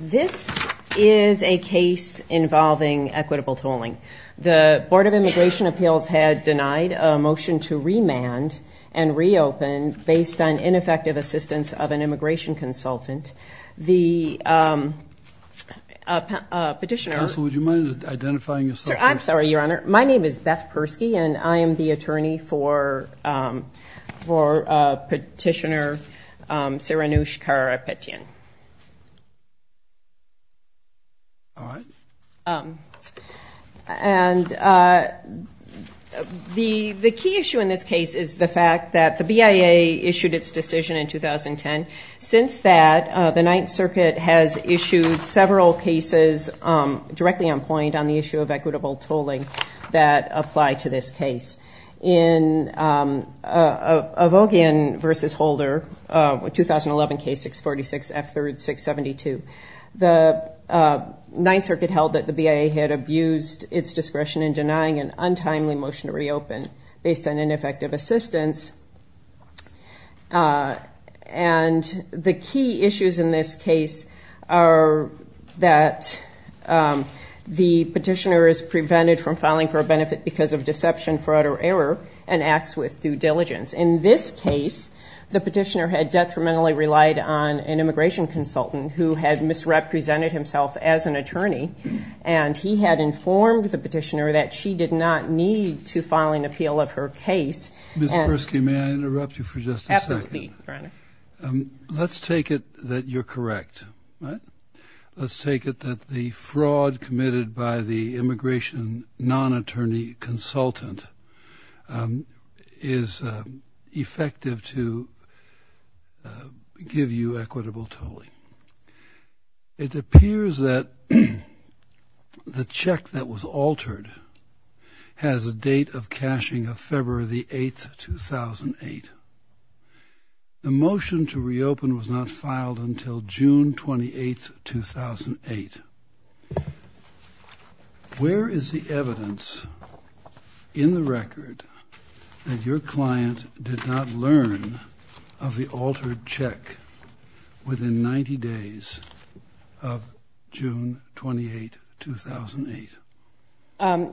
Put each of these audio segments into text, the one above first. This is a case involving equitable tolling. The Board of Immigration Appeals had denied a motion to remand and reopen based on ineffective assistance of an immigration consultant. The petitioner... Counsel, would you mind identifying yourself? I'm sorry, Your Honor. My name is Beth Persky and I am the attorney for petitioner Saranush Karapetyan. And the key issue in this case is the fact that the BIA issued its decision in 2010. Since that, the Ninth Circuit has issued several cases directly on point on the issue of equitable tolling that apply to this case. In Avogin v. Holder, a 2011 case 646F3-672, the Ninth Circuit held that the BIA had abused its discretion in denying an untimely motion to reopen based on that the petitioner is prevented from filing for a benefit because of deception, fraud, or error, and acts with due diligence. In this case, the petitioner had detrimentally relied on an immigration consultant who had misrepresented himself as an attorney, and he had informed the petitioner that she did not need to file an appeal of her case. Ms. Persky, may I interrupt you for just a second? Absolutely, Your Honor. Let's take it that you're correct. Let's take it that the fraud committed by the immigration non-attorney consultant is effective to give you equitable tolling. It appears that the check that was altered has a date of June 28, 2008. The motion to reopen was not filed until June 28, 2008. Where is the evidence in the record that your client did not learn of the altered check within 90 days of June 28, 2008?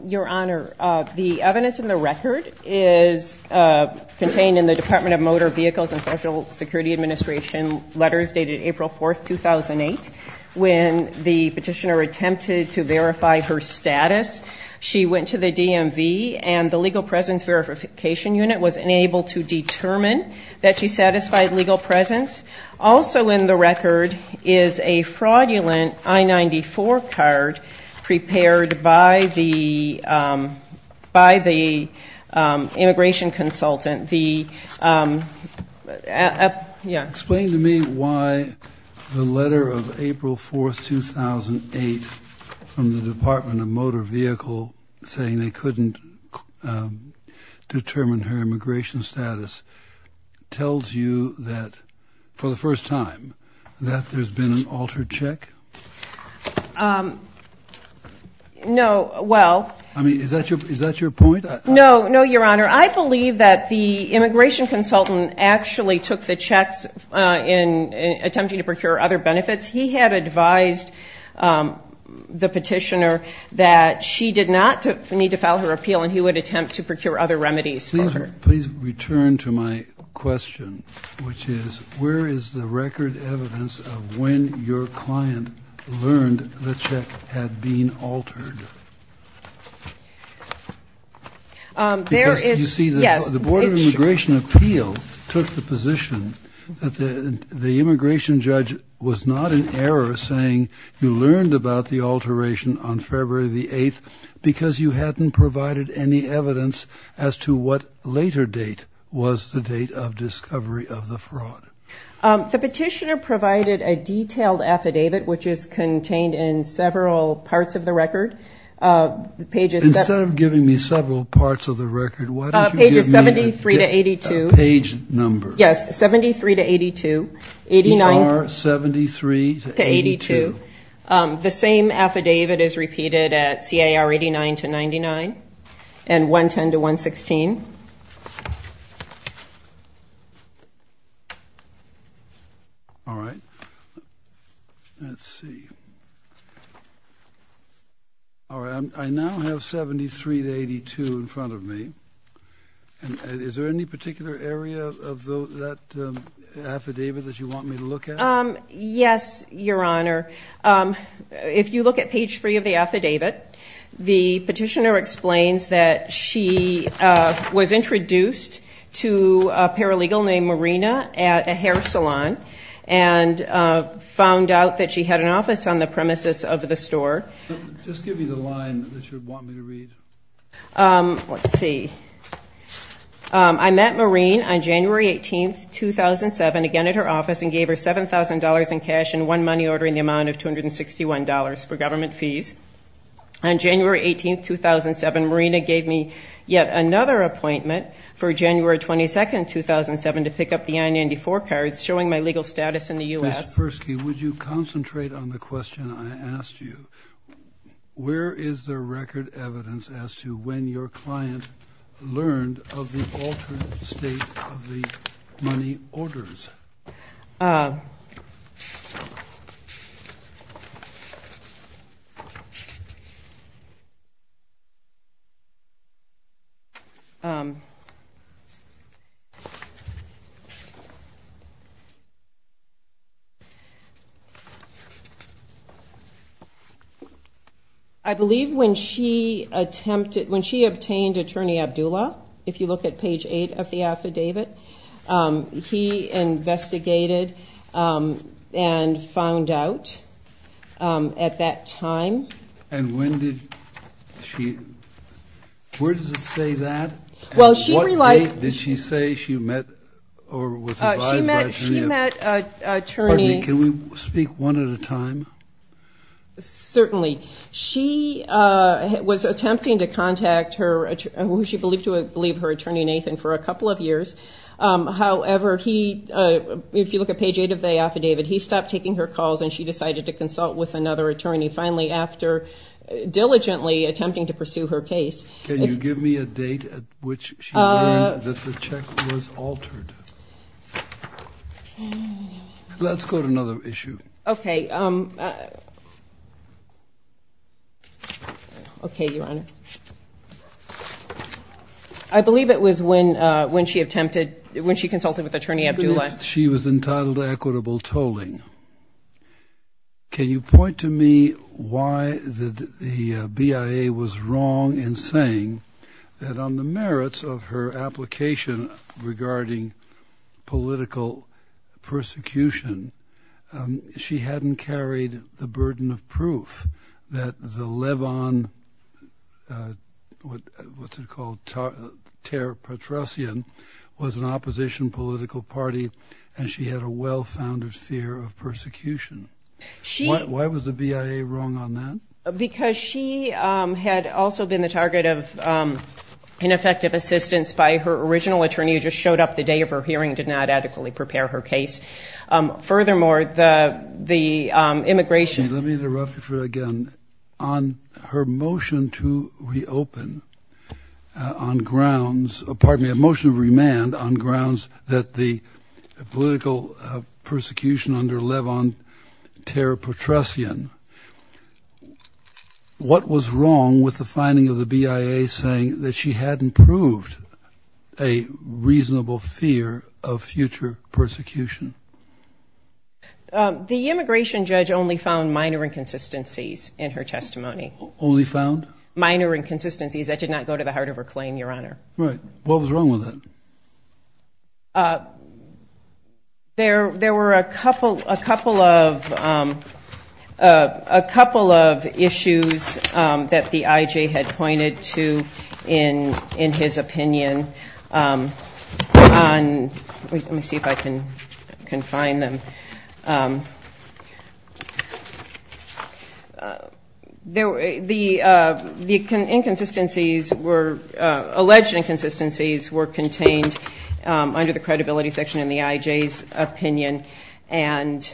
Your Honor, the evidence in the record is contained in the Department of Motor Vehicles and Social Security Administration letters dated April 4, 2008. When the petitioner attempted to verify her status, she went to the DMV and the Legal Presence Verification Unit was unable to determine that she satisfied legal presence. Also in the record is a fraudulent I-94 card prepared by the immigration consultant. Explain to me why the letter of April 4, 2008 from the Department of Motor Vehicles saying they couldn't determine her immigration status tells you that, for the first time, that there's been an altered check? No, Your Honor. I believe that the immigration consultant actually took the checks in attempting to procure other benefits. He had advised the petitioner that she did not need to file her appeal and he would attempt to procure other remedies for her. Can I please return to my question, which is, where is the record evidence of when your client learned the check had been altered? You see, the Board of Immigration Appeal took the position that the immigration judge was not in error saying you learned about the alteration on February the 8th because you hadn't provided any evidence as to what later date was the date of discovery of the fraud. The petitioner provided a detailed affidavit, which is contained in several parts of the record. Instead of giving me several parts of the record, why don't you give me a page number? Yes, 73 to 82. ER 73 to 82. The same affidavit is repeated at CAR 89 to 99 and 110 to 116. All right. Let's see. All right. I now have 73 to 82 in front of me. Is there any particular area of that affidavit that you want me to look at? Yes, Your Honor. If you look at page 3 of the affidavit, the petitioner explains that she was introduced to a paralegal named Marina at a hair salon and found out that she had an office on the premises of the store. Just give me the line that you would want me to read. Let's see. I met Marina on January 18, 2007, again at her office, and gave her $7,000 in cash and one money order in the amount of $261 for government fees. On January 18, 2007, Marina gave me yet another appointment for January 22, 2007 to pick up the I-94 cards showing my legal status in the U.S. Ms. Persky, would you concentrate on the question I asked you? Where is the record evidence as to when your client learned of the altered state of the money orders? I believe when she obtained Attorney Abdullah, if you look at page 8 of the affidavit, he investigated and found out at that time. And when did she? Where does it say that? What date did she say she met or was advised by Attorney Abdullah? Pardon me, can we speak one at a time? Certainly. She was attempting to contact who she believed to be her attorney, Nathan, for a couple of years. However, if you look at page 8 of the affidavit, he stopped taking her calls and she decided to consult with another attorney, finally after diligently attempting to pursue her case. Can you give me a date at which she learned that the check was altered? Let's go to another issue. Okay. Okay, Your Honor. I believe it was when she attempted, when she consulted with Attorney Abdullah. She was entitled to equitable tolling. Can you point to me why the BIA was wrong in saying that on the merits of her application regarding political persecution, she hadn't carried the burden of proof that the Levon, what's it called, was an opposition political party and she had a well-founded fear of persecution? Why was the BIA wrong on that? Because she had also been the target of ineffective assistance by her original attorney who just showed up the day of her hearing, did not adequately prepare her case. Furthermore, the immigration Let me interrupt you for a second. On her motion to reopen on grounds, pardon me, a motion to remand on grounds that the political persecution under Levon Ter-Petrosyan, what was wrong with the finding of the BIA saying that she hadn't proved a reasonable reason to reopen? A reasonable fear of future persecution? The immigration judge only found minor inconsistencies in her testimony. Only found? Minor inconsistencies that did not go to the heart of her claim, Your Honor. Right. What was wrong with that? There were a couple of issues that the IJ had pointed to in his opinion. Let me see if I can find them. The inconsistencies were, alleged inconsistencies were contained under the credibility section in the IJ's opinion and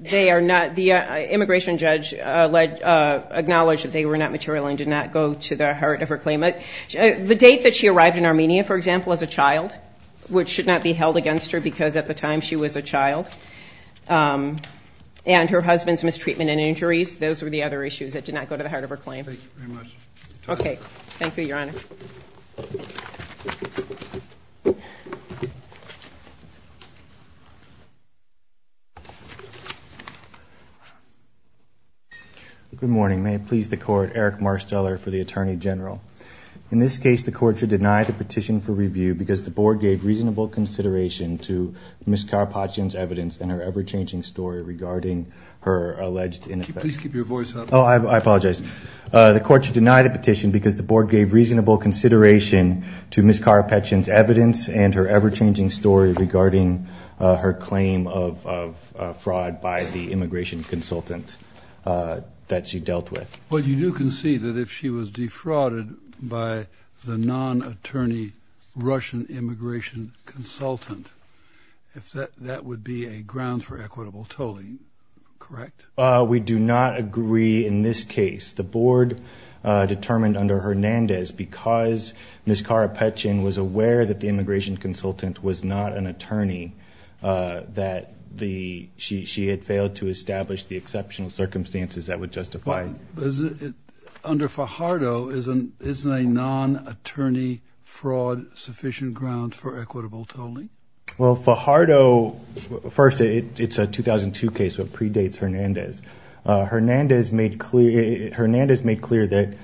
they are not, the immigration judge acknowledged that they were not material and did not go to the heart of her claim. The date that she arrived in Armenia, for example, as a child, which should not be held against her because at the time she was a child. And her husband's mistreatment and injuries, those were the other issues that did not go to the heart of her claim. Thank you very much. Okay. Thank you, Your Honor. Thank you. Good morning. May it please the court, Eric Marsteller for the Attorney General. In this case, the court should deny the petition for review because the board gave reasonable consideration to Ms. Karpachian's evidence and her ever-changing story regarding her alleged ineffectiveness. Could you please keep your voice up? Oh, I apologize. The court should deny the petition because the board gave reasonable consideration to Ms. Karpachian's evidence and her ever-changing story regarding her claim of fraud by the immigration consultant that she dealt with. Well, you do concede that if she was defrauded by the non-attorney Russian immigration consultant, that would be a ground for equitable tolling, correct? We do not agree in this case. The board determined under Hernandez, because Ms. Karpachian was aware that the immigration consultant was not an attorney, that she had failed to establish the exceptional circumstances that would justify it. Under Fajardo, isn't a non-attorney fraud sufficient grounds for equitable tolling? Well, Fajardo, first, it's a 2002 case, so it predates Hernandez. Hernandez made clear that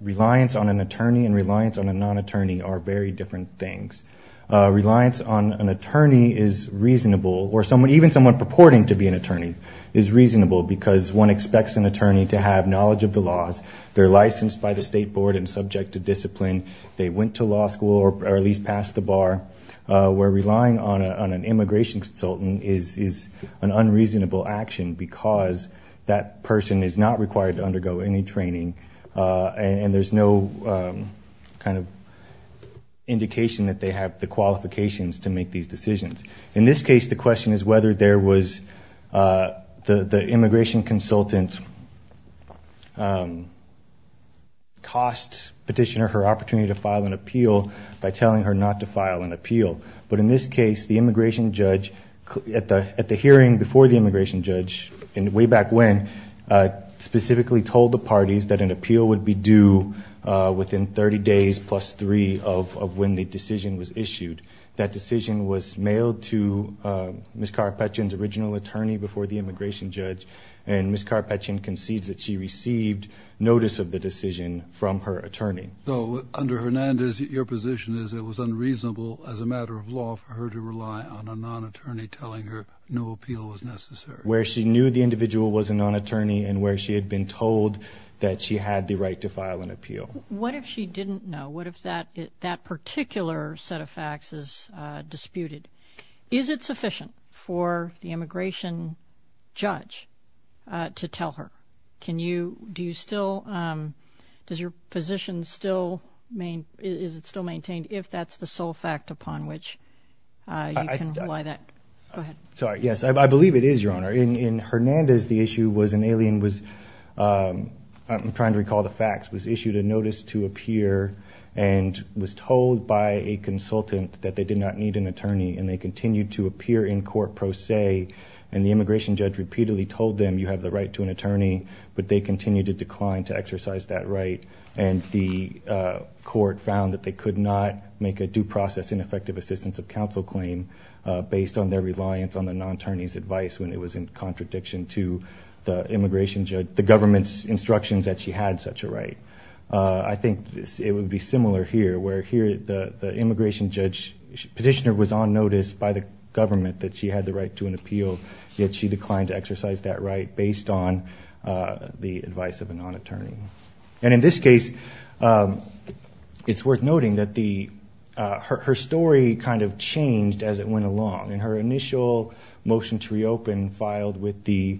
reliance on an attorney and reliance on a non-attorney are very different things. Reliance on an attorney is reasonable, or even someone purporting to be an attorney is reasonable, because one expects an attorney to have knowledge of the laws, they're licensed by the state board and subject to discipline, they went to law school or at least passed the bar, where relying on an immigration consultant is an unreasonable action because that person is not required to undergo any training and there's no kind of indication that they have the qualifications to make these decisions. In this case, the question is whether there was the immigration consultant cost petitioner her opportunity to file an appeal by telling her not to file an appeal. But in this case, the immigration judge, at the hearing before the immigration judge and way back when, specifically told the parties that an appeal would be due within 30 days plus three of when the decision was issued. That decision was mailed to Ms. Carpechan's original attorney before the immigration judge and Ms. Carpechan concedes that she received notice of the decision from her attorney. So under Hernandez, your position is it was unreasonable as a matter of law for her to rely on a non-attorney telling her no appeal was necessary. Where she knew the individual was a non-attorney and where she had been told that she had the right to file an appeal. What if she didn't know? What if that particular set of facts is disputed? Is it sufficient for the immigration judge to tell her? Can you, do you still, does your position still, is it still maintained if that's the sole fact upon which you can rely that? Sorry, yes, I believe it is, Your Honor. In Hernandez, the issue was an alien was, I'm trying to recall the facts, was issued a notice to appear and was told by a consultant that they did not need an attorney. And they continued to appear in court pro se. And the immigration judge repeatedly told them you have the right to an attorney, but they continued to decline to exercise that right. And the court found that they could not make a due process ineffective assistance of counsel claim based on their reliance on the non-attorney's advice when it was in contradiction to the immigration judge, the government's instructions that she had such a right. I think it would be similar here where here the immigration judge petitioner was on notice by the government that she had the right to an appeal. Yet she declined to exercise that right based on the advice of a non-attorney. And in this case, it's worth noting that her story kind of changed as it went along. In her initial motion to reopen filed with the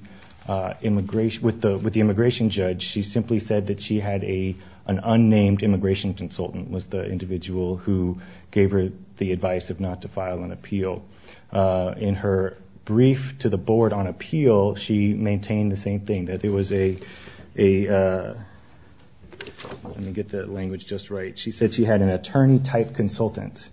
immigration judge, she simply said that she had an unnamed immigration consultant was the individual who gave her the advice of not to file an appeal. In her brief to the board on appeal, she maintained the same thing, that it was a, let me get the language just right. She said she had an attorney-type consultant,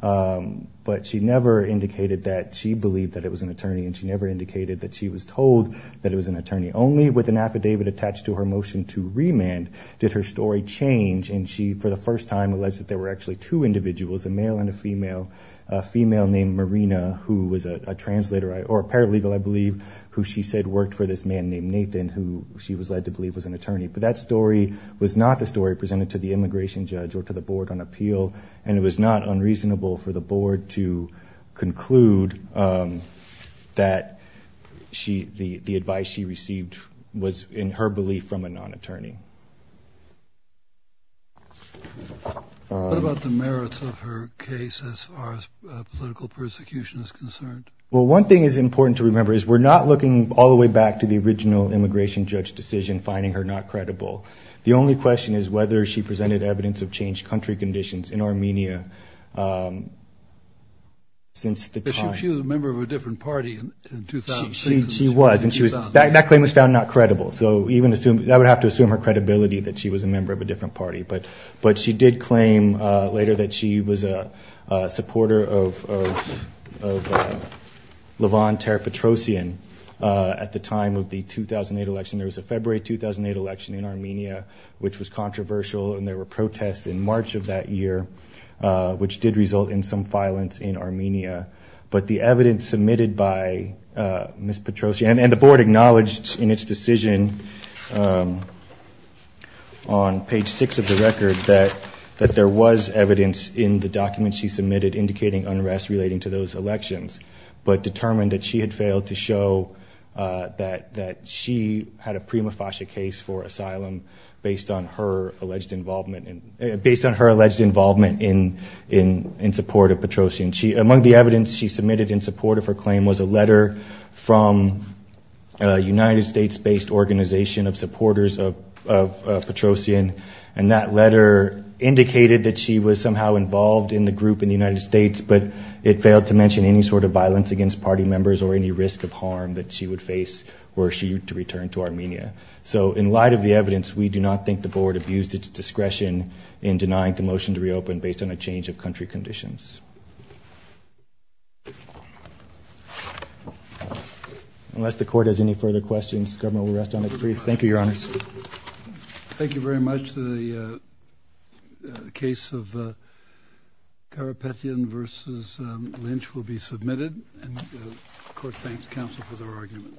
but she never indicated that she believed that it was an attorney. And she never indicated that she was told that it was an attorney. Only with an affidavit attached to her motion to remand did her story change. And she, for the first time, alleged that there were actually two individuals, a male and a female. A female named Marina, who was a translator or paralegal, I believe, who she said worked for this man named Nathan, who she was led to believe was an attorney. But that story was not the story presented to the immigration judge or to the board on appeal. And it was not unreasonable for the board to conclude that the advice she received was in her belief from a non-attorney. What about the merits of her case as far as political persecution is concerned? Well, one thing is important to remember is we're not looking all the way back to the original immigration judge decision, finding her not credible. The only question is whether she presented evidence of changed country conditions in Armenia since the time. But she was a member of a different party in 2006. She was, and that claim was found not credible. So that would have to assume her credibility that she was a member of a different party. But she did claim later that she was a supporter of Lavon Ter-Petrosyan at the time of the 2008 election. There was a February 2008 election in Armenia, which was controversial, and there were protests in March of that year, which did result in some violence in Armenia. But the evidence submitted by Ms. Petrosyan, and the board acknowledged in its decision on page 6 of the record that there was evidence in the documents she submitted indicating unrest relating to those elections, but determined that she had failed to show that she had a prima facie case for asylum based on her alleged involvement in support of Petrosyan. Among the evidence she submitted in support of her claim was a letter from a United States-based organization of supporters of Petrosyan, and that letter indicated that she was somehow involved in the group in the United States, but it failed to mention any sort of violence against party members or any risk of harm that she would face were she to return to Armenia. So in light of the evidence, we do not think the board abused its discretion in denying the motion to reopen based on a change of country conditions. Unless the court has any further questions, the government will rest on its feet. Thank you, Your Honors. Thank you very much. The case of Karapetyan v. Lynch will be submitted, and the court thanks counsel for their argument.